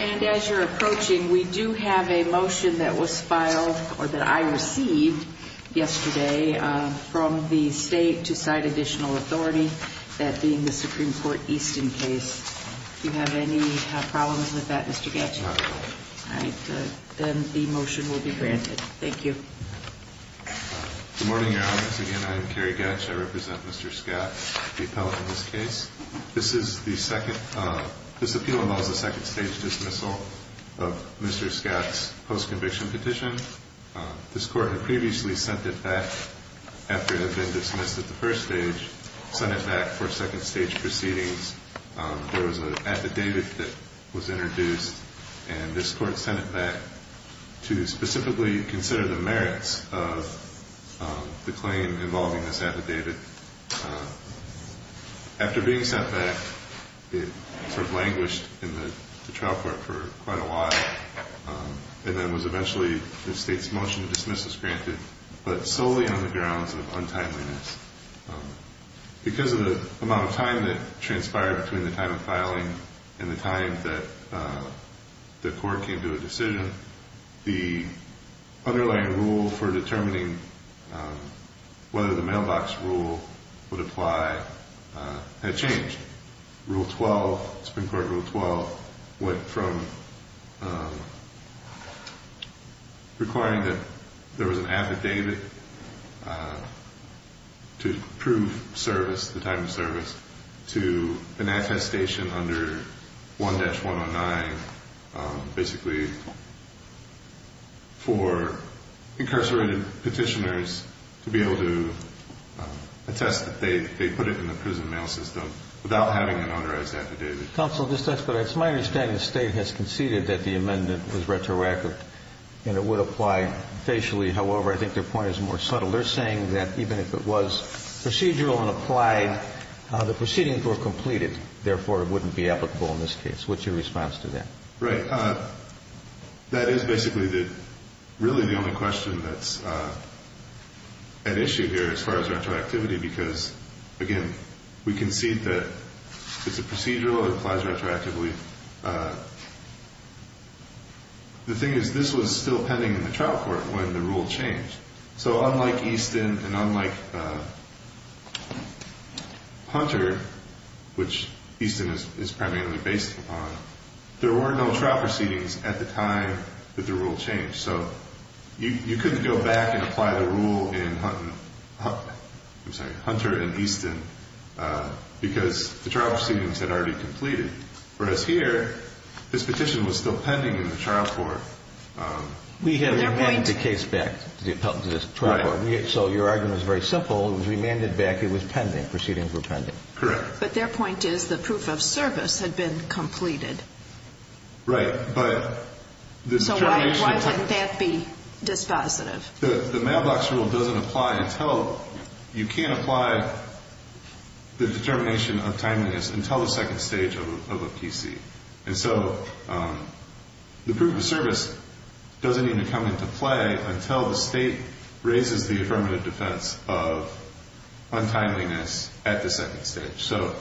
And as you're approaching, we do have a motion that was filed or that I received yesterday from the state to cite additional authority that being the Supreme Court Easton case. Do you have any problems with that, Mr. Gatch? No. All right. Then the motion will be granted. Thank you. Good morning, Your Honors. Again, I am Kerry Gatch. I represent Mr. Scott, the appellate in this case. This is the second, this appeal involves a second stage dismissal of Mr. Scott's post-conviction petition. This court had previously sent it back after it had been dismissed at the first stage, sent it back for second stage proceedings. There was an affidavit that was introduced, and this court sent it back to specifically consider the merits of the claim involving this affidavit. After being sent back, it sort of languished in the trial court for quite a while, and then was eventually the state's motion to dismiss this granted, but solely on the grounds of untimeliness. Because of the amount of time that transpired between the time of filing and the time that the court came to a decision, the underlying rule for determining whether the mailbox rule would apply had changed. Rule 12, Supreme Court Rule 12, went from requiring that there was an affidavit to prove service, the time of service, to an attestation under 1-109, basically for incarcerated petitioners to be able to attest that they put it in the prison mail system without having an authorized affidavit. Counsel, just to ask, but it's my understanding the State has conceded that the amendment was retroactive and it would apply facially. However, I think their point is more subtle. They're saying that even if it was procedural and applied, the proceedings were completed, therefore it wouldn't be applicable in this case. What's your response to that? Right. That is basically really the only question that's at issue here as far as retroactivity because, again, we concede that it's a procedural, it applies retroactively. The thing is this was still pending in the trial court when the rule changed. So unlike Easton and unlike Hunter, which Easton is primarily based upon, there were no trial proceedings at the time that the rule changed. So you couldn't go back and apply the rule in Hunter and Easton because the trial proceedings had already completed. Whereas here, this petition was still pending in the trial court. We have remanded the case back to the trial court. So your argument is very simple. It was remanded back. It was pending. Proceedings were pending. Correct. But their point is the proof of service had been completed. Right. But this determination So why wouldn't that be dispositive? The mailbox rule doesn't apply until you can't apply the determination of timeliness until the second stage of a PC. And so the proof of service doesn't even come into play until the state raises the affirmative defense of untimeliness at the second stage. So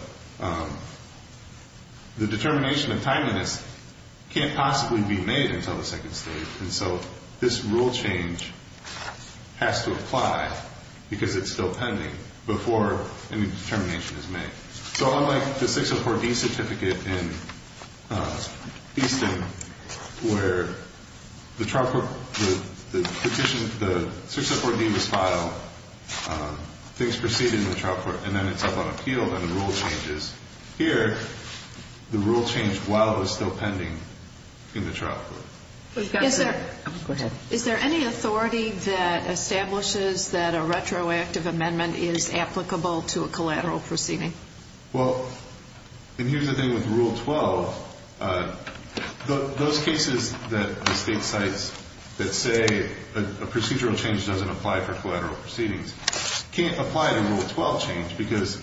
the determination of timeliness can't possibly be made until the second stage. And so this rule change has to apply because it's still pending before any determination is made. So unlike the 604D certificate in Easton, where the trial court, the petition, the 604D was filed, things proceeded in the trial court, and then it's up on appeal, then the rule changes. Here, the rule changed while it was still pending in the trial court. Is there any authority that establishes that a retroactive amendment is applicable to a collateral proceeding? Well, and here's the thing with Rule 12, those cases that the state cites that say a procedural change doesn't apply for collateral proceedings can't apply to Rule 12 change because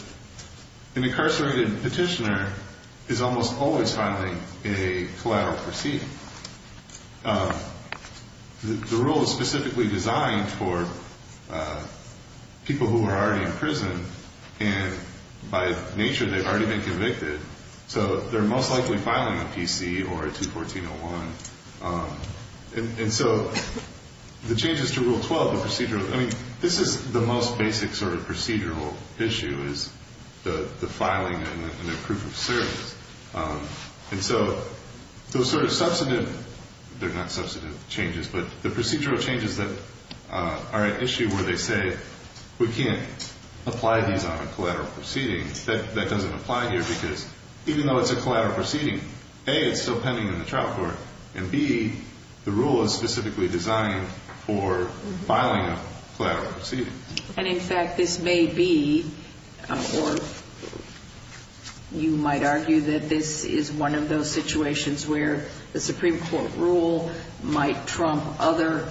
an incarcerated petitioner is almost always filing a collateral proceeding. The rule is specifically designed for people who are already in prison, and by nature, they've already been convicted. So they're most likely filing a PC or a 214-01. And so the changes to Rule 12, the procedural, I mean, this is the most basic sort of procedural issue is the filing and the proof of service. And so those sort of substantive, they're not substantive changes, but the procedural changes that are an issue where they say we can't apply these on a collateral proceeding, that doesn't apply here because even though it's a collateral proceeding, A, it's still pending in the trial court, and B, the rule is specifically designed for filing a collateral proceeding. And in fact, this may be, or you might argue that this is one of those situations where the Supreme Court rule might trump other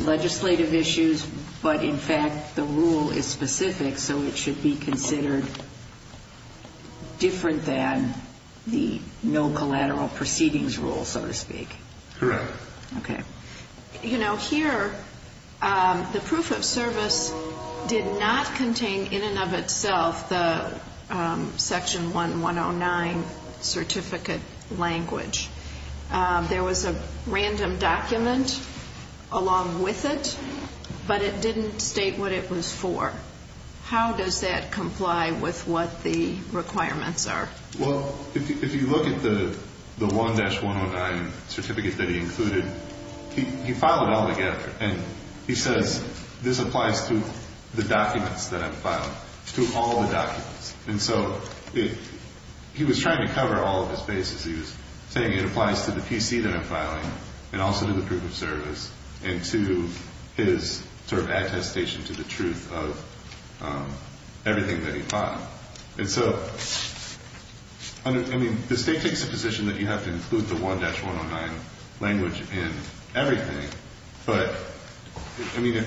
legislative issues, but in fact, the rule is specific, so it should be considered different than the no collateral proceedings rule, so to speak. Correct. Okay. You know, here, the proof of service did not contain in and of itself the Section 1109 certificate language. There was a random document along with it, but it didn't state what it was for. How does that comply with what the requirements are? Well, if you look at the 1-109 certificate that he included, he filed it all together, and he says this applies to the documents that I'm filing, to all the documents. And so he was trying to cover all of his bases. He was saying it applies to the PC that I'm filing and also to the proof of service and to his sort of attestation to the truth of everything that he filed. And so, I mean, the State takes a position that you have to include the 1-109 language in everything, but, I mean,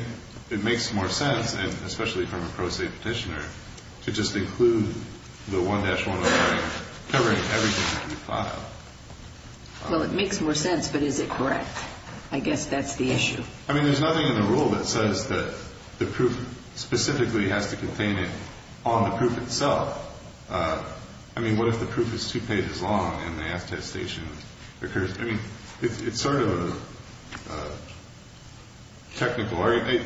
it makes more sense, and especially from a pro se Petitioner, to just include the 1-109 covering everything that you filed. Well, it makes more sense, but is it correct? I guess that's the issue. I mean, there's nothing in the rule that says that the proof specifically has to contain it on the proof itself. I mean, what if the proof is two pages long and the attestation occurs? I mean, it's sort of a technical error.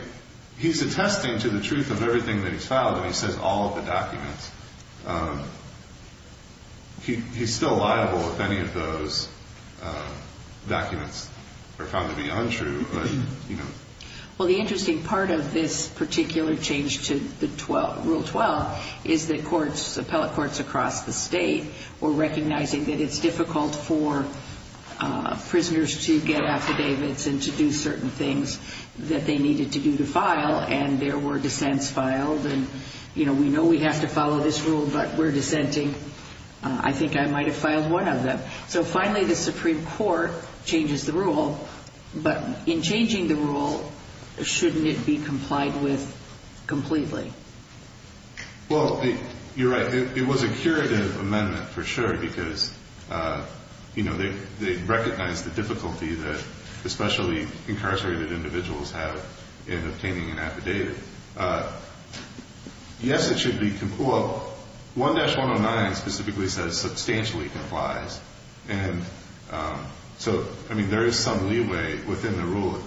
He's attesting to the truth of everything that he's filed, and he says all of the documents. He's still liable if any of those documents are found to be untrue. Well, the interesting part of this particular change to Rule 12 is that courts, appellate courts across the State, were recognizing that it's difficult for prisoners to get affidavits and to do certain things that they needed to do to file, and there were dissents filed. And, you know, we know we have to follow this rule, but we're dissenting. I think I might have filed one of them. So, finally, the Supreme Court changes the rule, but in changing the rule, shouldn't it be complied with completely? Well, you're right. It was a curative amendment, for sure, because, you know, they recognized the difficulty that especially incarcerated individuals have in getting affidavits. I think it should be, well, 1-109 specifically says substantially complies. And so, I mean, there is some leeway within the rule,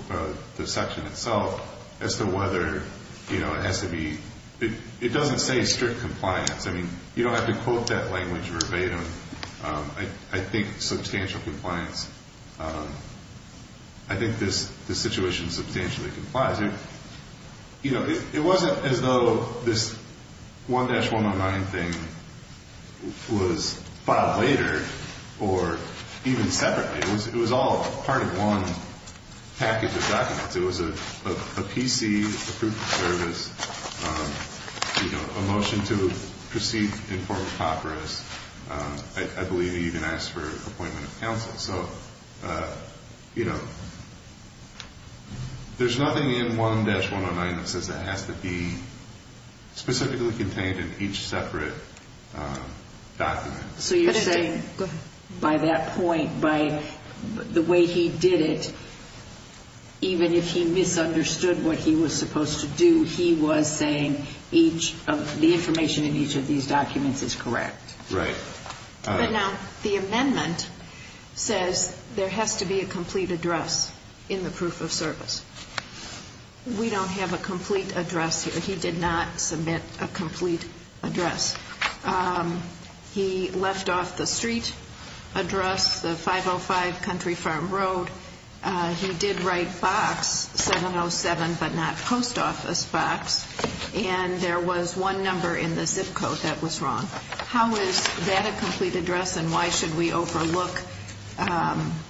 the section itself, as to whether, you know, it has to be, it doesn't say strict compliance. I mean, you don't have to quote that language verbatim. I think substantial compliance, I think this situation substantially complies. You know, it wasn't as though this 1-109 thing was filed later, or even separately. It was all part of one package of documents. It was a PC, a proof of service, you know, a motion to proceed in form of papyrus. I believe they even asked for an appointment of counsel. So, you know, there's nothing in 1-109 that says it has to be specifically contained in each separate document. So you're saying by that point, by the way he did it, even if he misunderstood what he was supposed to do, he was saying each of the information in each of these documents is correct. Right. But now the amendment says there has to be a complete address in the proof of service. And he did not submit a complete address. He left off the street address, the 505 Country Farm Road. He did write box 707, but not post office box. And there was one number in the zip code that was wrong. How is that a complete address, and why should we overlook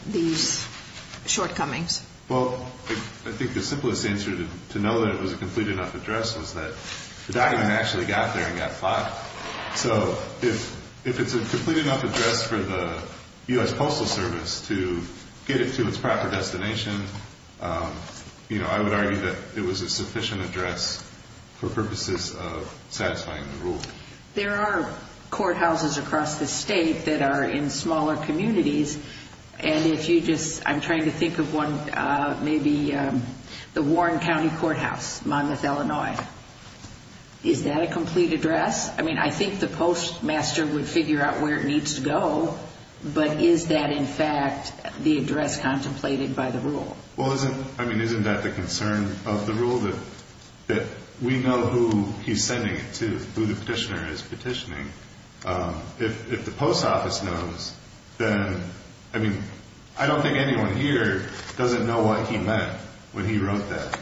these shortcomings? Well, I think the simplest answer to know that it was a complete enough address was that the document actually got there and got filed. So if it's a complete enough address for the U.S. Postal Service to get it to its proper destination, you know, I would argue that it was a sufficient address for purposes of satisfying the rule. There are courthouses across the state that are in smaller communities. And if you just, I'm trying to think of one, maybe the Warren County Courthouse, Monmouth, Illinois. Is that a complete address? I mean, I think the postmaster would figure out where it needs to go. But is that, in fact, the address contemplated by the rule? Well, isn't that the concern of the rule, that we know who he's sending it to, who the petitioner is petitioning? If the post office knows, then, I mean, I don't think anyone here doesn't know what he meant when he wrote that.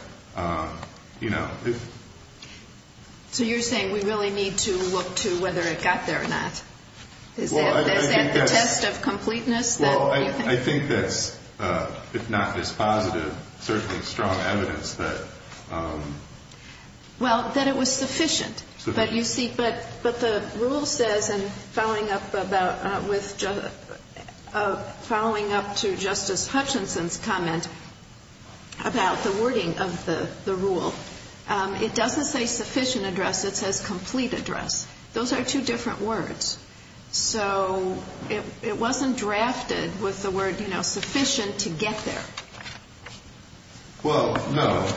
So you're saying we really need to look to whether it got there or not? Is that the test of completeness? Well, I think that's, if not this positive, certainly strong evidence that Well, that it was sufficient. But you see, but the rule says, and following up to Justice Hutchinson's comment about the wording of the rule, it doesn't say sufficient address. It says complete address. Those are two different words. So it wasn't drafted with the word, you know, sufficient to get there. Well, no.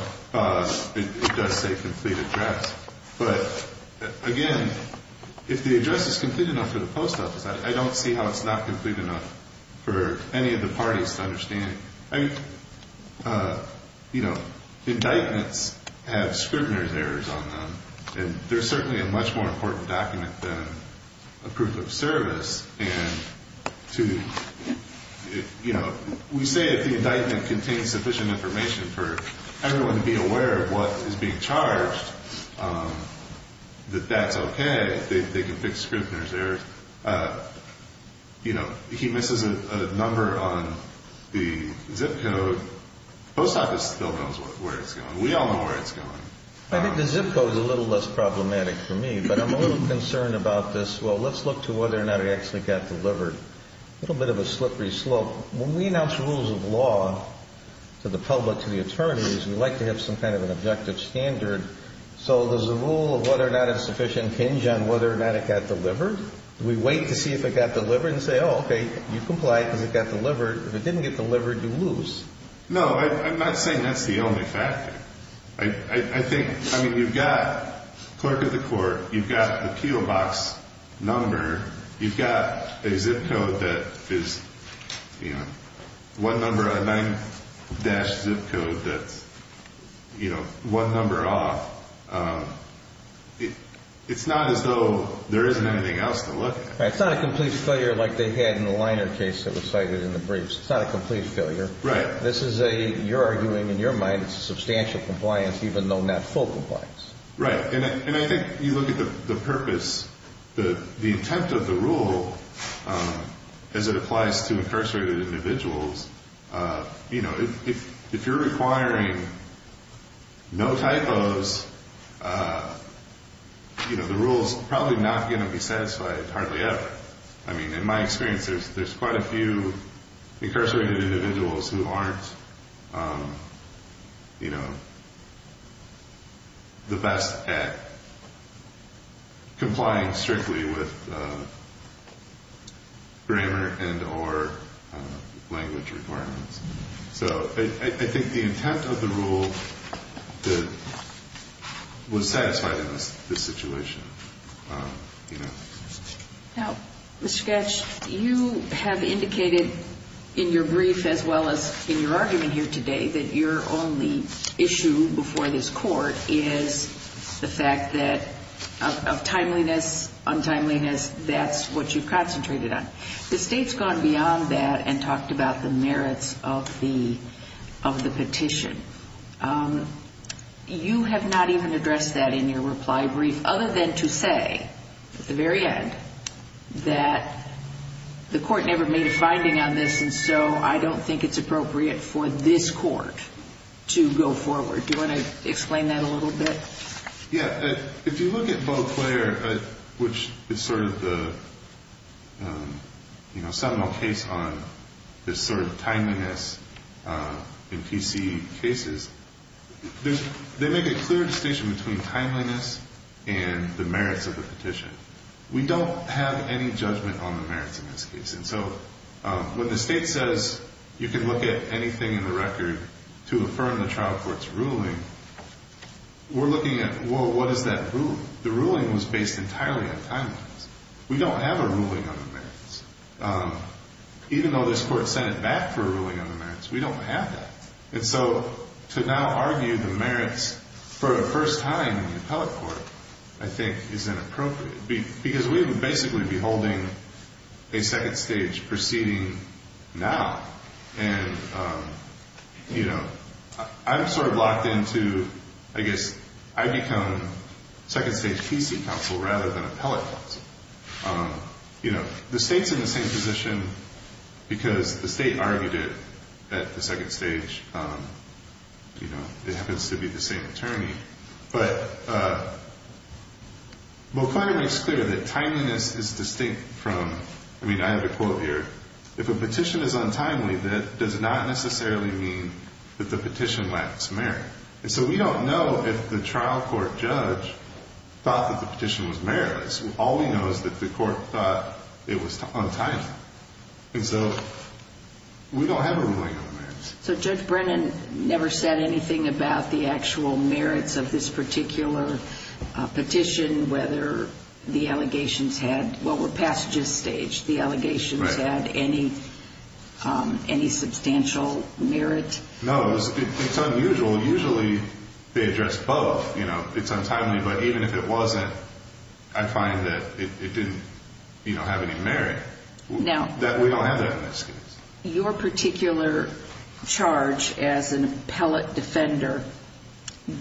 It does say complete address. But, again, if the address is complete enough for the post office, I don't see how it's not complete enough for any of the parties to understand. You know, indictments have scrutinized errors on them. And they're certainly a much more important document than a proof of service. And to, you know, we say if the indictment contains sufficient information for everyone to be aware of what is being charged, that that's okay. They can fix scrutinized errors. You know, he misses a number on the zip code. The post office still knows where it's going. We all know where it's going. I think the zip code is a little less problematic for me. But I'm a little concerned about this. Well, let's look to whether or not it actually got delivered. A little bit of a slippery slope. When we announce rules of law to the public, to the attorneys, we like to have some kind of an objective standard. So does the rule of whether or not it's sufficient hinge on whether or not it got delivered? Do we wait to see if it got delivered and say, oh, okay, you've complied because it got delivered. If it didn't get delivered, you lose. No, I'm not saying that's the only factor. I think, I mean, you've got clerk of the court. You've got the PO box number. You've got a zip code that is, you know, one number off. It's not as though there isn't anything else to look at. Right. It's not a complete failure like they had in the liner case that was cited in the briefs. It's not a complete failure. Right. This is a, you're arguing in your mind, it's a substantial compliance even though not full compliance. Right. And I think you look at the purpose, the intent of the rule as it is. If you're requiring no typos, you know, the rule is probably not going to be satisfied hardly ever. I mean, in my experience, there's quite a few incarcerated individuals who aren't, you know, the best at complying strictly with grammar and or language requirements. So I think the intent of the rule was satisfied in this situation. Now, Mr. Goetsch, you have indicated in your brief as well as in your argument here today that your only issue before this court is the fact that of timeliness, untimeliness, that's what you concentrated on. The state's gone beyond that and talked about the merits of the petition. You have not even addressed that in your reply brief other than to say at the very end that the court never made a finding on this and so I don't think it's appropriate for this court to go forward. Do you want to explain that a little bit? Yeah. If you look at Beauclair, which is sort of the, you know, seminal case on this sort of timeliness in PC cases, they make a clear distinction between timeliness and the merits of the petition. We don't have any judgment on the merits in this case. And so when the state says you can look at anything in the record to affirm the trial court's ruling, we're looking at, well, what is that ruling? The ruling was based entirely on timeliness. We don't have a ruling on the merits. Even though this court sent it back for a ruling on the merits, we don't have that. And so to now argue the merits for a first time in the appellate court I think is inappropriate because we would basically be holding a second stage proceeding now. And, you know, I'm sort of locked into, I guess, I become second stage PC counsel rather than appellate counsel. You know, the state's in the same position because the state argued it at the second stage. You know, it happens to be the same attorney. But Beauclair makes clear that it's distinct from, I mean, I have a quote here, if a petition is untimely, that does not necessarily mean that the petition lacks merit. And so we don't know if the trial court judge thought that the petition was meritless. All we know is that the court thought it was untimely. And so we don't have a ruling on the merits. So Judge Brennan never said anything about the actual merits of this particular petition, whether the allegations had, what were passages staged, the allegations had any substantial merit? No. It's unusual. Usually they address both. You know, it's untimely. But even if it wasn't, I find that it didn't, you know, have any merit. We don't have that in this case. Your particular charge as an appellate defender,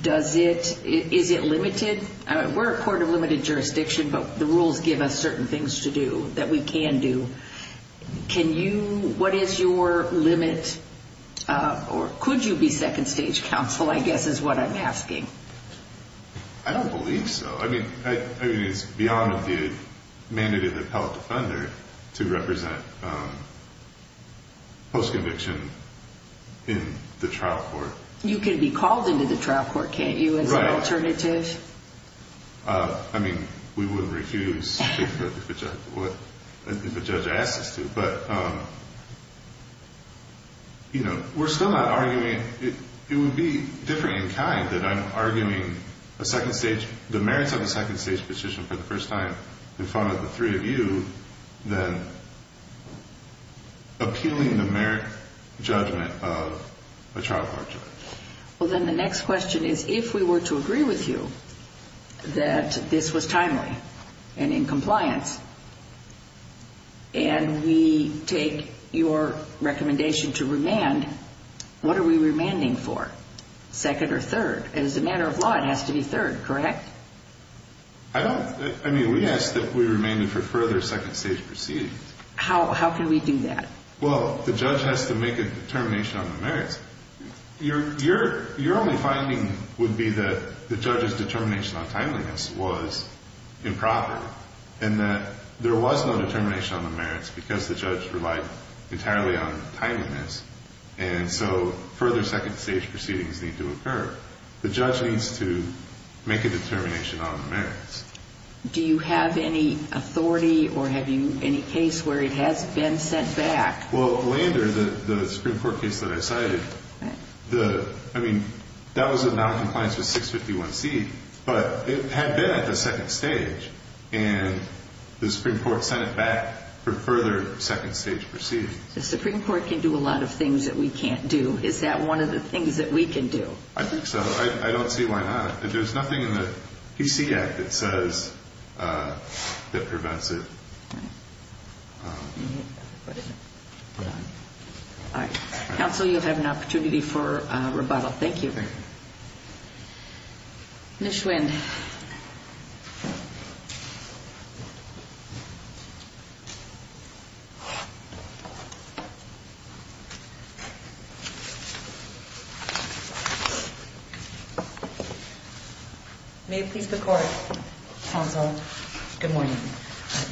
does it, is it limited? We're a court of limited jurisdiction, but the rules give us certain things to do that we can do. Can you, what is your limit, or could you be second stage counsel, I guess is what I'm asking. I don't believe so. I mean, it's beyond the mandate of the appellate defender to represent post-conviction in the trial court. You can be called into the trial court, can't you, as an alternative? Right. I mean, we wouldn't refuse if a judge asked us to. But, you know, we're still not arguing, it would be different in kind that I'm arguing a second stage, the merits of a second stage petition for the first time in front of the three of you than appealing the merit judgment of a trial court judge. Well, then the next question is, if we were to agree with you that this was timely and in compliance, and we take your recommendation to remand, what are we remanding for, second or third? As a matter of law, it has to be third, correct? I don't, I mean, we ask that we remand it for further second stage proceedings. How can we do that? Well, the judge has to make a determination on the merits. Your only finding would be that the judge's determination on timeliness was improper, and that there was no determination on the merits because the judge relied entirely on timeliness, and so further second stage proceedings need to occur. The judge needs to make a determination on the merits. Do you have any authority or have you any case where it has been sent back? Well, Lander, the Supreme Court case that I cited, the, I mean, that was in noncompliance with 651C, but it had been at the second stage, and the Supreme Court sent it back for further second stage proceedings. The Supreme Court can do a lot of things that we can't do. Is that one of the things that we can do? I think so. I don't see why not. There's nothing in the PC Act that says that prevents it. All right. Counsel, you have an opportunity for rebuttal. Thank you. Ms. Schwind. May it please the Court. Counsel, good morning.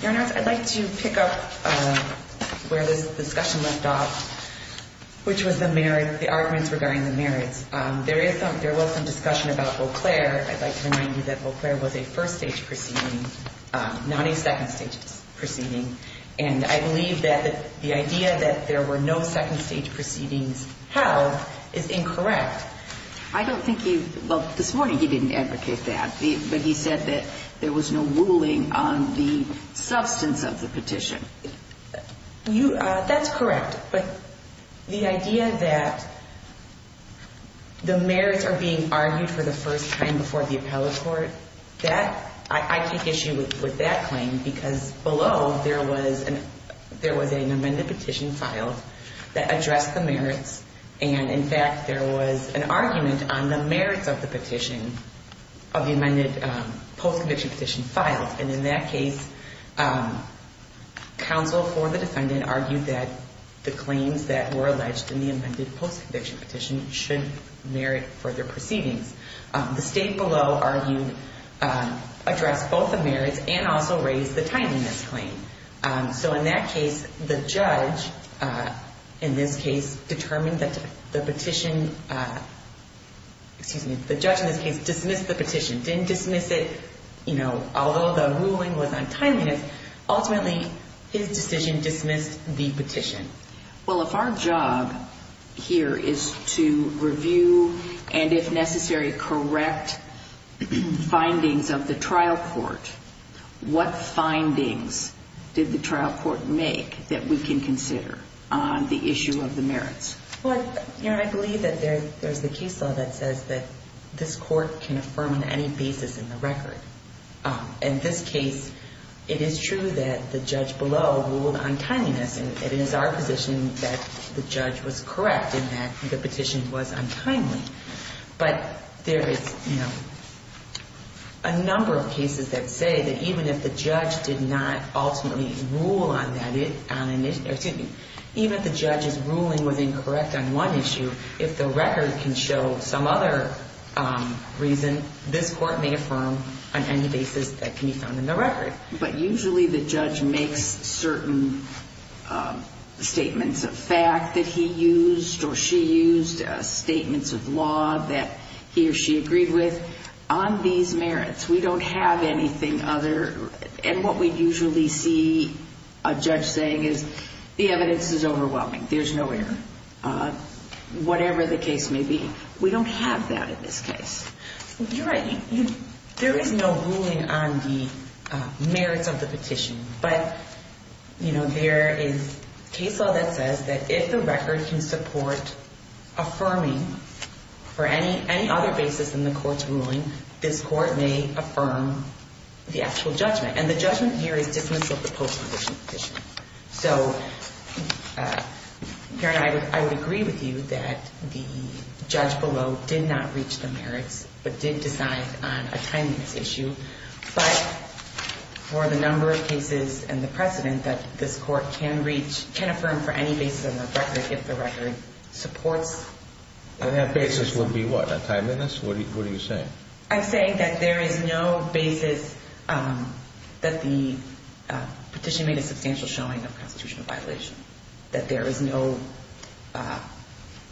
Your Honor, I'd like to pick up where this discussion left off, which was the merits, the arguments regarding the merits. There is some, there was some discussion about Eau Claire. I'd like to remind you that Eau Claire was a first stage proceeding, not a second stage proceeding, and I believe that the idea that there were no second stage proceedings held is incorrect. I don't think he, well, this morning he didn't advocate that, but he said that there was no ruling on the substance of the petition. That's correct, but the idea that the merits are being argued for the first time before the appellate court, that, I take issue with that claim, because below there was an amended petition filed that addressed the merits, and in fact there was an argument on the merits of the petition, of the amended post-conviction petition filed, and in that case, counsel for the defendant argued that the claims that were alleged in the amended post-conviction petition should merit further proceedings. The state below argued, addressed both the merits and also raised the timeliness claim. So in that case, the judge, in this case, determined that the petition, excuse me, the judge in this case dismissed the petition, didn't dismiss it, you know, although the ruling was on timeliness, ultimately his decision dismissed the petition. Well, if our job here is to review and, if necessary, correct findings of the petition, what findings did the trial court make that we can consider on the issue of the merits? Well, you know, I believe that there's the case law that says that this court can affirm on any basis in the record. In this case, it is true that the judge below ruled on timeliness, and it is our position that the judge was correct in that the petition was untimely. But there is, you know, a number of cases that say that even if the judge did not ultimately rule on that, excuse me, even if the judge's ruling was incorrect on one issue, if the record can show some other reason, this court may affirm on any basis that can be found in the record. But usually the judge makes certain statements of fact that he used or she used, statements of law that he or she agreed with. On these merits, we don't have anything other, and what we usually see a judge saying is, the evidence is overwhelming, there's no error, whatever the case may be. We don't have that in this case. You're right. There is no ruling on the merits of the petition. But, you know, there is case law that says that if the record can support affirming for any other basis in the court's ruling, this court may affirm the actual judgment. And the judgment here is dismissal of the post-condition petition. So, Karen, I would agree with you that the judge below did not reach the merits but did decide on a timeliness issue. But for the number of cases and the precedent that this court can reach, can affirm for any basis in the record if the record supports. And that basis would be what? A timeliness? What are you saying? I'm saying that there is no basis that the petition made a substantial showing of constitutional violation. That there is no,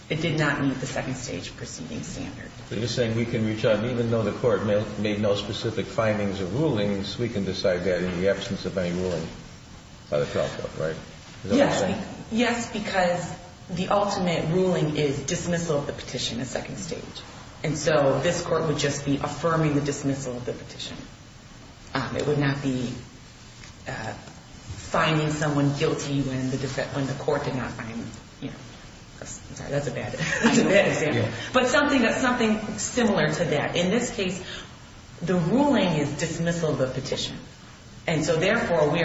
it did not meet the second stage proceeding standard. So you're saying we can reach out, even though the court made no specific findings or rulings, we can decide that in the absence of any ruling by the trial court, right? Yes. Is that what you're saying? Yes, because the ultimate ruling is dismissal of the petition at second stage. And so this court would just be affirming the dismissal of the petition. It would not be finding someone guilty when the court did not find them. I'm sorry, that's a bad example. But something similar to that. In this case, the ruling is dismissal of the petition. And so, therefore, we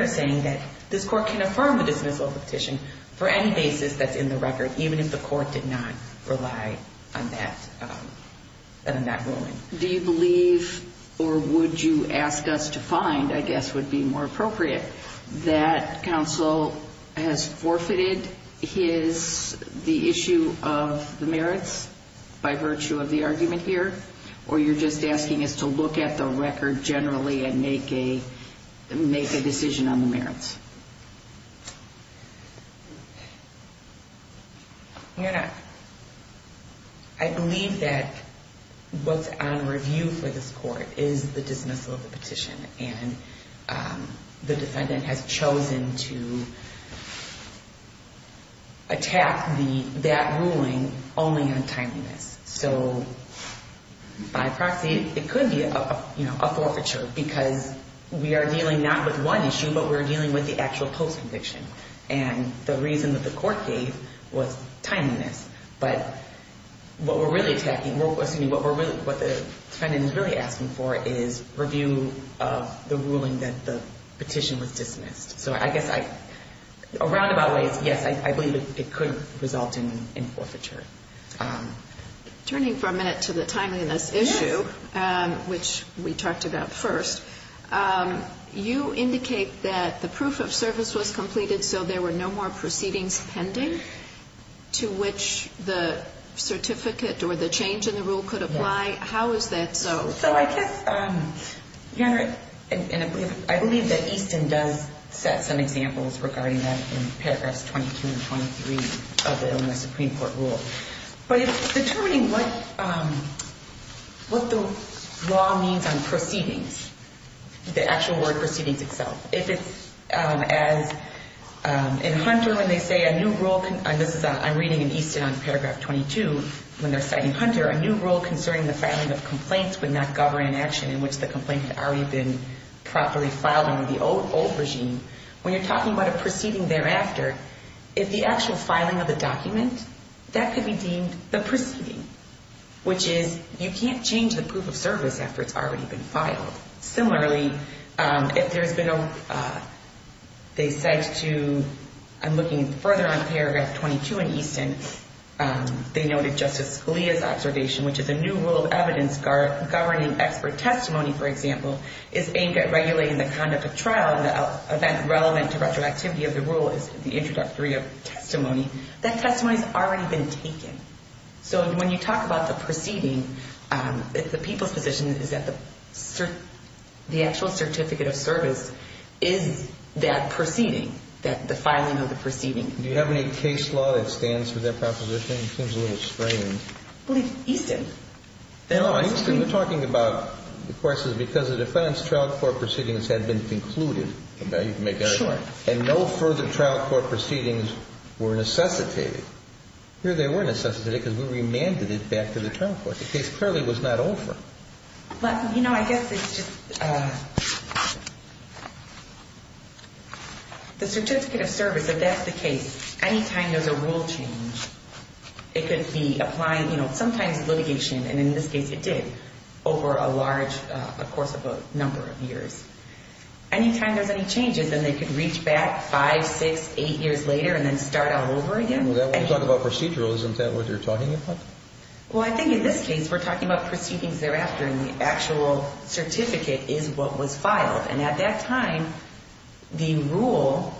are saying that this court can affirm the dismissal of the petition for any basis that's in the record, even if the court did not rely on that ruling. Do you believe, or would you ask us to find, I guess would be more appropriate, that counsel has forfeited the issue of the merits by virtue of the argument here? Or you're just asking us to look at the record generally and make a decision on the merits? You know, I believe that what's on review for this court is the dismissal of the petition. And the defendant has chosen to attack that ruling only on timeliness. So by proxy, it could be a forfeiture because we are dealing not with one issue, but we're dealing with the actual post-conviction. And the reason that the court gave was timeliness. But what we're really attacking, or excuse me, what the defendant is really asking for is review of the ruling that the petition was dismissed. So I guess I, a roundabout way, yes, I believe it could result in forfeiture. Turning for a minute to the timeliness issue, which we talked about first, you indicate that the proof of service was completed, so there were no more proceedings pending to which the certificate or the change in the rule could apply. How is that so? So I guess, Your Honor, and I believe that Easton does set some examples regarding that in paragraphs 22 and 23 of the Illinois Supreme Court rule. But it's determining what the law means on proceedings, the actual word proceedings itself. If it's as in Hunter when they say a new rule, and this is I'm reading in Easton on paragraph 22 when they're citing Hunter, a new rule concerning the filing of complaints would not govern an action in which the complaint had already been properly filed under the old regime. When you're talking about a proceeding thereafter, if the actual filing of the document, that could be deemed the proceeding, which is you can't change the proof of service after it's already been filed. Similarly, if there's been a, they said to, I'm looking further on paragraph 22 in Easton, they noted Justice Scalia's observation, which is a new rule of evidence governing expert testimony, for example, is aimed at regulating the conduct of trial in the event relevant to retroactivity of the rule is the introductory of testimony, that testimony has already been taken. So when you talk about the proceeding, the people's position is that the actual certificate of service is that proceeding, the filing of the proceeding. Do you have any case law that stands for that proposition? It seems a little strange. I believe Easton. No, Easton, we're talking about, of course, is because of defense, trial court proceedings had been concluded. You can make that a point. And no further trial court proceedings were necessitated. Here they were necessitated because we remanded it back to the trial court. The case clearly was not over. Well, you know, I guess it's just the certificate of service, if that's the case, any time there's a rule change, it could be applying, you know, sometimes litigation. And in this case it did over a large, of course, of a number of years. Any time there's any changes and they could reach back five, six, eight years later and then start all over again. And when you talk about procedural, isn't that what you're talking about? Well, I think in this case we're talking about proceedings thereafter, and the actual certificate is what was filed. And at that time the rule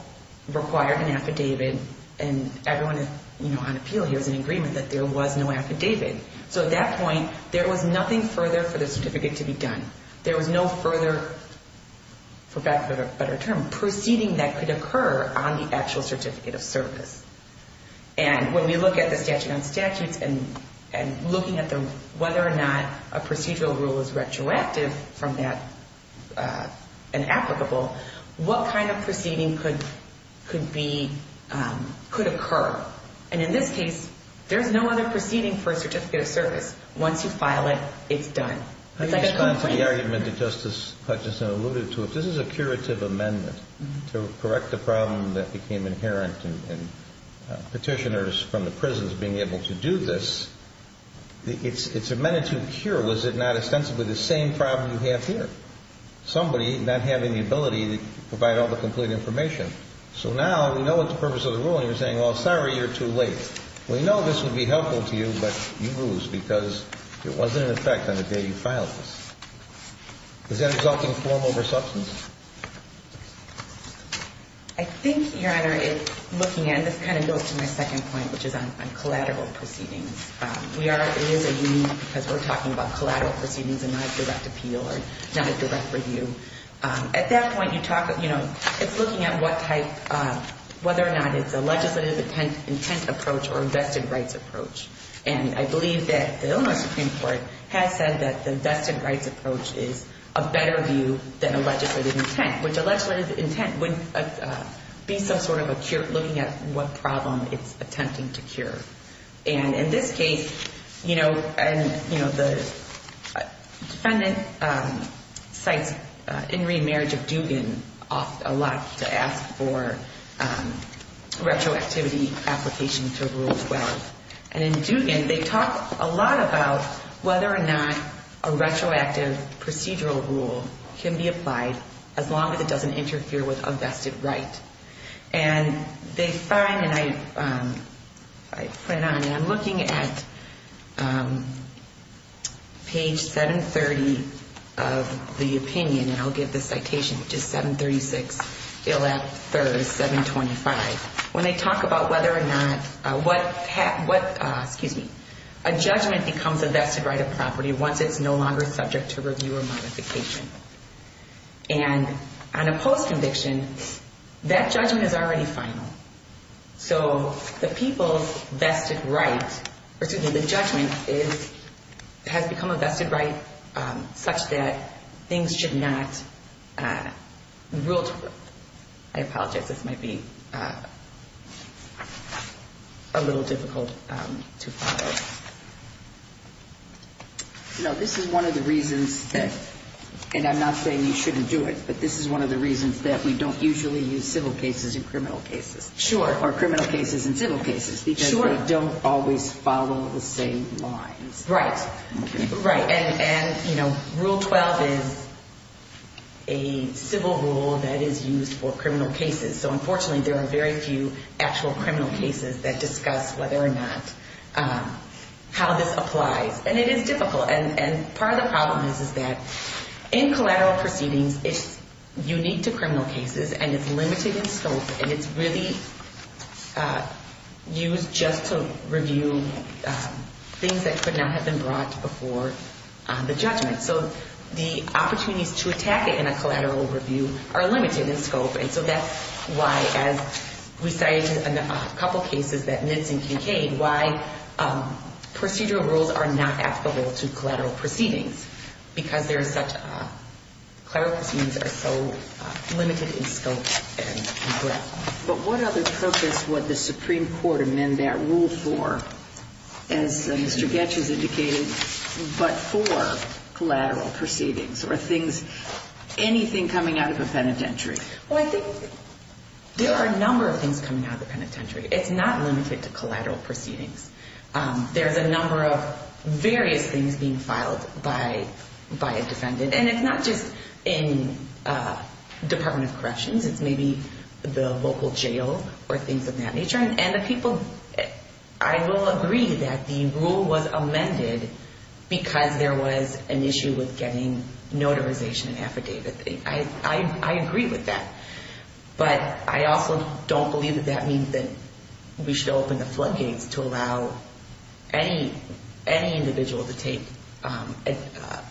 required an affidavit, and everyone, you know, on appeal here is in agreement that there was no affidavit. So at that point there was nothing further for the certificate to be done. There was no further, for lack of a better word, to be done. And when we look at the statute on statutes and looking at whether or not a procedural rule is retroactive from that and applicable, what kind of proceeding could be, could occur? And in this case there's no other proceeding for a certificate of service. Once you file it, it's done. I respond to the argument that Justice Hutchinson alluded to. If this is a curative amendment to correct the problem that became inherent in petitioners from the prisons being able to do this, it's a magnitude cure. Was it not ostensibly the same problem you have here? Somebody not having the ability to provide all the complete information. So now we know what the purpose of the ruling is saying, well, sorry, you're too late. We know this would be helpful to you, but you lose because it wasn't in effect on the day you filed this. Is that exalting form over substance? I think, Your Honor, it's looking at, this kind of goes to my second point, which is on collateral proceedings. We are, it is a union because we're talking about collateral proceedings and not a direct appeal or not a direct review. At that point you talk, you know, it's looking at what type, whether or not it's a legislative intent approach or vested rights approach. And I believe that the Illinois Supreme Court has said that the vested rights approach is a better view than a legislative intent, which a legislative intent would be some sort of a cure, looking at what problem it's attempting to cure. And in this case, you know, and, you know, the defendant cites in remarriage of Dugan a lot to ask for retroactivity application to Rule 12. And in Dugan, they talk a lot about whether or not a retroactive procedural rule can be applied as long as it doesn't interfere with a vested right. And they find, and I put it on, and I'm looking at page 730 of the opinion, and I'll give the citation, which is 736, Bill F. Thurs, 725. When they talk about whether or not what, excuse me, a judgment becomes a vested right of property once it's no longer subject to review or modification. And on a post conviction, that judgment is already final. So the people's vested right, or excuse me, the judgment has become a vested right such that things should not, Rule 12, I think, are a little difficult to follow. You know, this is one of the reasons that, and I'm not saying you shouldn't do it, but this is one of the reasons that we don't usually use civil cases in criminal cases. Sure. Or criminal cases in civil cases. Sure. Because they don't always follow the same lines. Right. Right. And, you know, Rule 12 is a civil rule that is used for criminal cases. So unfortunately there are very few actual criminal cases that discuss whether or not how this applies. And it is difficult. And part of the problem is, is that in collateral proceedings, it's unique to criminal cases and it's limited in scope and it's really used just to review things that could not have been brought before the judgment. So the opportunities to consider, besides a couple cases that Nitz and Kincaid, why procedural rules are not applicable to collateral proceedings, because there is such a, collateral proceedings are so limited in scope and breadth. But what other purpose would the Supreme Court amend that rule for, as Mr. Goetsch has indicated, but for collateral proceedings? Or things, anything coming out of a penitentiary? Well, I think there are a number of things coming out of the penitentiary. It's not limited to collateral proceedings. There's a number of various things being filed by a defendant. And it's not just in Department of Corrections. It's maybe the local jail or things of that nature. And the people, I will agree that the rule was amended because there was an issue with getting notarization and affidavit. I agree with that. But I also don't believe that that means that we should open the floodgates to allow any individual to take an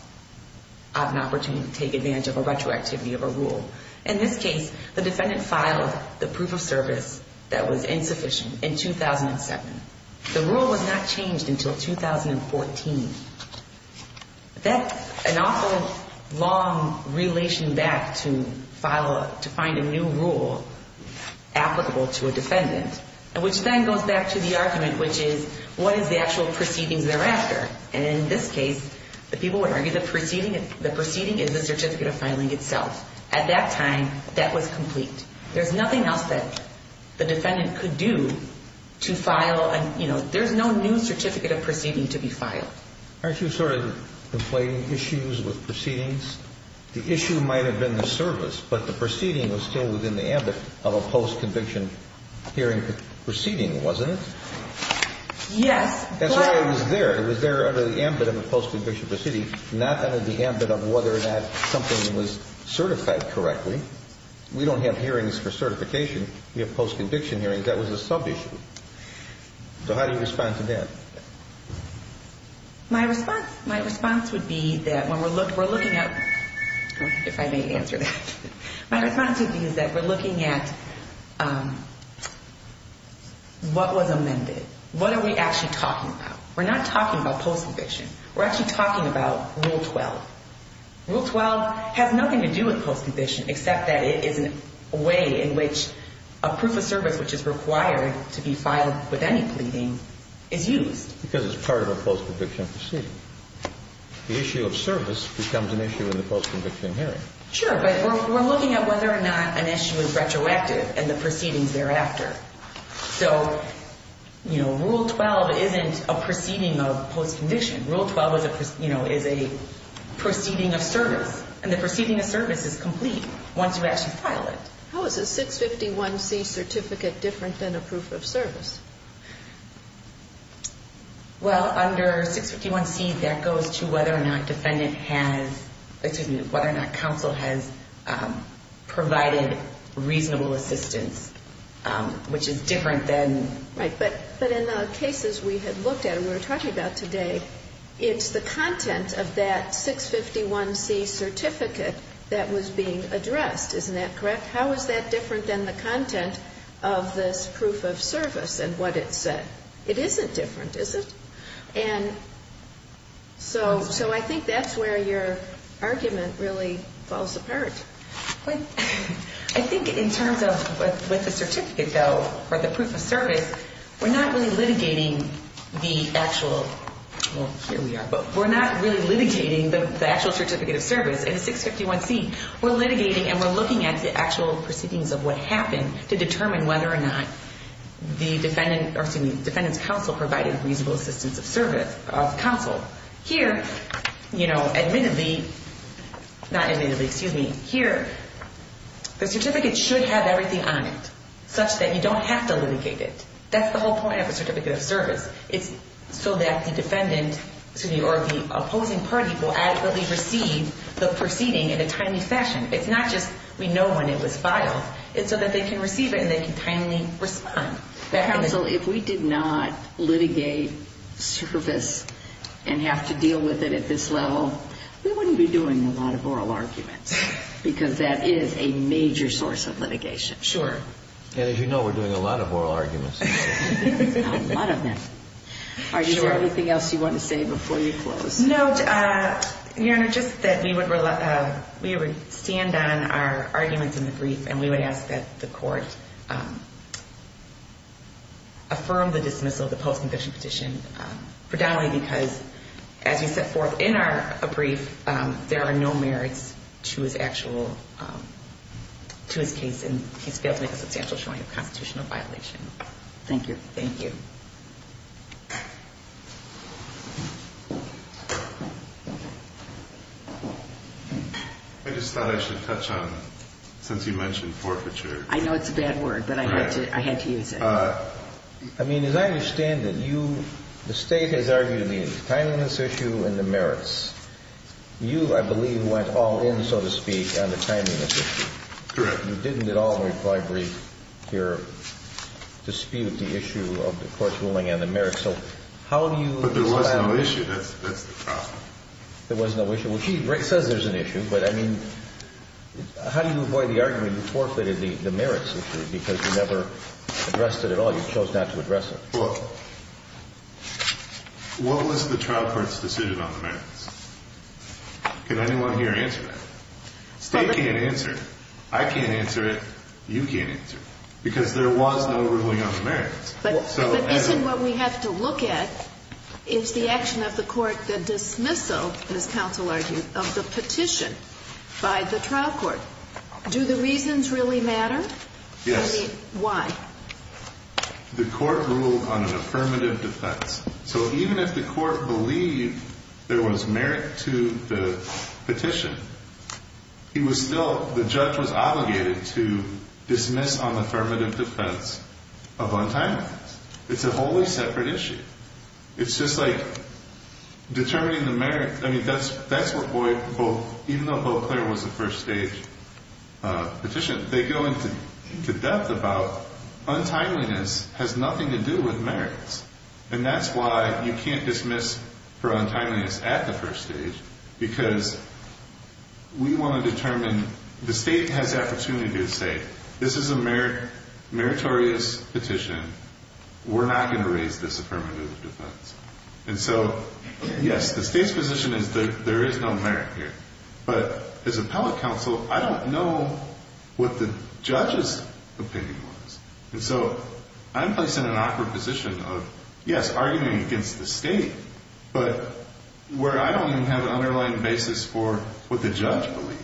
opportunity to take advantage of a retroactivity of a rule. In this case, the defendant filed the proof of service that was insufficient in 2007. The rule was not changed until 2014. That's an awful long relation back to 2007. And so I think that the Supreme Court would have to file a, to find a new rule applicable to a defendant, which then goes back to the argument, which is, what is the actual proceedings thereafter? And in this case, the people would argue the proceeding is the certificate of filing itself. At that time, that was complete. There's nothing else that the defendant could do to file a, you know, there's no new certificate of proceeding to be filed. But the proceeding was still within the ambit of a post-conviction hearing proceeding, wasn't it? Yes. That's why it was there. It was there under the ambit of a post-conviction proceeding, not under the ambit of whether or not something was certified correctly. We don't have hearings for certification. We have post-conviction hearings. That was a sub-issue. So how do you respond to that? My response, my response would be that when we're looking at, if I may answer that, when we're looking at the post-conviction hearing, my response would be that we're looking at what was amended. What are we actually talking about? We're not talking about post-conviction. We're actually talking about Rule 12. Rule 12 has nothing to do with post-conviction except that it is a way in which a proof of service which is required to be filed with any pleading is used. Because it's part of a post-conviction proceeding. The issue of service becomes an issue in the post-conviction hearing. Sure. But we're looking at whether or not an issue is retroactive and the proceedings thereafter. So, you know, Rule 12 isn't a proceeding of post-conviction. Rule 12 is a, you know, is a proceeding of service. And the proceeding of service is complete once you actually file it. How is a 651C certificate different than a proof of service? Well, under 651C, that goes to whether or not defendant has, excuse me, whether or not counsel has provided reasonable assistance, which is different than Right. But in the cases we had looked at and we were talking about today, it's the content of that 651C certificate that was being addressed. Isn't that correct? How is that different than the content of this proof of service and what it said? It isn't different, is it? And so I think that's where your argument really falls apart. I think in terms of what the certificate, though, or the proof of service, we're not really litigating the actual, well, here we are, but we're not really litigating the actual certificate of service in 651C. We're looking at whether or not the defendant, or excuse me, defendant's counsel provided reasonable assistance of service, of counsel. Here, you know, admittedly, not admittedly, excuse me, here, the certificate should have everything on it, such that you don't have to litigate it. That's the whole point of a certificate of service. It's so that the defendant, excuse me, or the opposing party will adequately receive the proceeding in a timely fashion. It's not just a matter of, you know, you know, you know, you know, you know, it's not just we know when it was filed. It's so that they can receive it and they can timely respond. Counsel, if we did not litigate service and have to deal with it at this level, we wouldn't be doing a lot of oral arguments, because that is a major source of litigation. Sure. And as you know, we're doing a lot of oral arguments. A lot of them. All right. Is there anything else you want to say before we close? No, Your Honor, just that we would stand on our arguments in the brief, and we would ask that the court affirm the dismissal of the post-conviction petition, predominantly because, as we set forth in our brief, there are no merits to his actual, to his case, and he's guilty of substantial showing of constitutional violation. Thank you. Thank you. I just thought I should touch on, since you mentioned forfeiture. I know it's a bad word, but I had to use it. I mean, as I understand it, you, the State has argued the timeliness issue and the merits. You, I believe, went all in, so to speak, on the timeliness issue. Correct. You didn't at all in your brief dispute the issue of the court's ruling on the merits. But there was no issue. That's the problem. There was no issue. Well, she says there's an issue, but, I mean, how do you avoid the argument that you forfeited the merits issue because you never addressed it at all? You chose not to address it. Well, what was the trial court's decision on the merits? Can anyone here answer that? State can't answer it. I can't answer it. You can't answer it. Because there was no ruling on the merits. But isn't what we have to look at is the action of the court, the dismissal, as counsel argued, of the petition by the trial court. Do the reasons really matter? Yes. Why? The court ruled on an affirmative defense. So even if the court believed there was merit to the petition, he was still, the judge was obligated to dismiss on affirmative defense. But the court ruled on the merits of untimeliness. It's a wholly separate issue. It's just like determining the merits. I mean, that's what both, even though both there was a first stage petition, they go into depth about untimeliness has nothing to do with merits. And that's why you can't dismiss for untimeliness at the first stage, because we want to determine, the state has the opportunity to say, this is a meritorious petition. We're not going to raise this affirmative defense. And so, yes, the state's position is that there is no merit here. But as appellate counsel, I don't know what the judge's opinion was. And so I'm placed in an awkward position of, yes, arguing against the state, but where I don't even have an underlying basis for what the judge believed.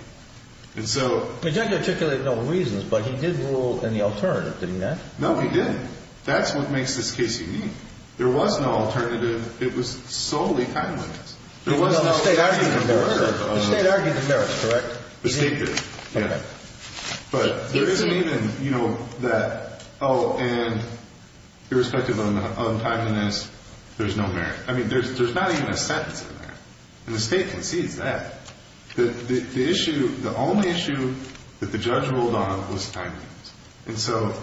And so... The judge articulated no reasons, but he did rule in the alternative, didn't he, Matt? No, he didn't. That's what makes this case unique. There was no alternative. It was solely timeliness. The state argued the merits, correct? The state did, yeah. But there isn't even that, oh, and irrespective of untimeliness, there's no merit. There's not even a sentence in there. And the state concedes that. The issue, the only issue that the judge ruled on was timeliness. And so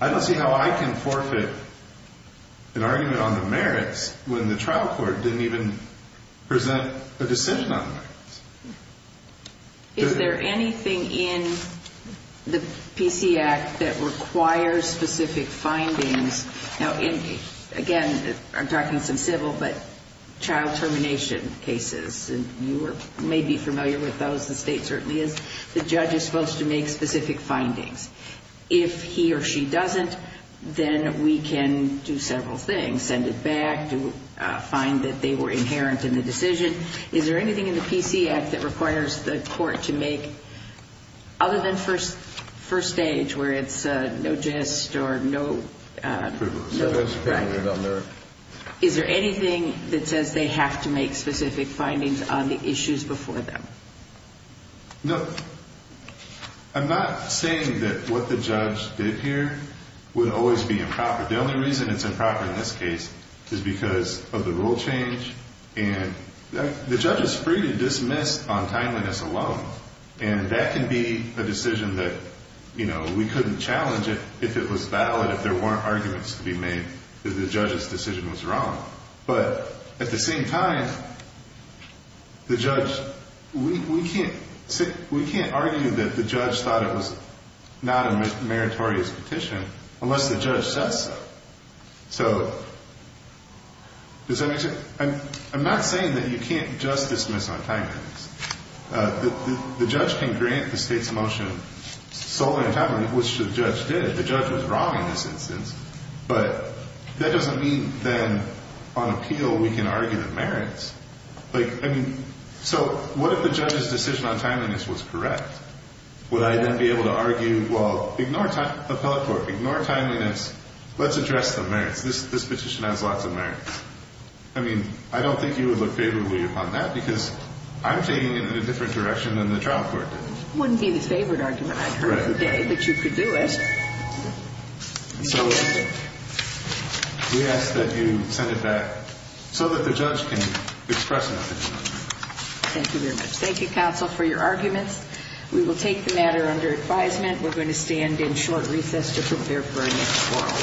I don't see how I can forfeit an argument on the merits when the trial court didn't even present a decision on the merits. Is there anything in the PC Act that requires specific findings? Now, again, I'm talking some civil, but child termination cases. And you may be familiar with those. The state certainly is. The judge is supposed to make specific findings. If he or she doesn't, then we can do several things, send it back to find that they were inherent in the decision. Is there anything in the PC Act that requires the court to make, other than first stage where it's no gist or no record, is there anything that says they have to make specific findings on the issues before them? No. I'm not saying that what the judge did here would always be improper. The only reason it's improper in this case is because of the rule change. The judge is free to dismiss on timeliness alone. And that can be a decision that we couldn't challenge if it was valid, if there weren't arguments to be made that the judge's decision was wrong. But at the same time, we can't argue that the judge thought it was not a meritorious petition unless the judge says so. So does that make sense? I'm not saying that you can't just dismiss on timeliness. The judge can grant the state's motion solely on timeliness, which the judge did. The judge was wrong in this instance. But that doesn't mean then on appeal we can argue the merits. Like, I mean, so what if the judge's decision on timeliness was correct? Would I then be able to argue, well, ignore appellate court, ignore timeliness, let's address the merits. This petition has lots of merits. I mean, I don't think you would look favorably upon that because I'm taking it in a different direction than the trial court did. It wouldn't be the favored argument I heard today, but you could do it. So we ask that you send it back so that the judge can express an opinion. Thank you very much. Thank you, counsel, for your arguments. We will take the matter under advisement. We're going to stand in short recess to prepare for our next trial.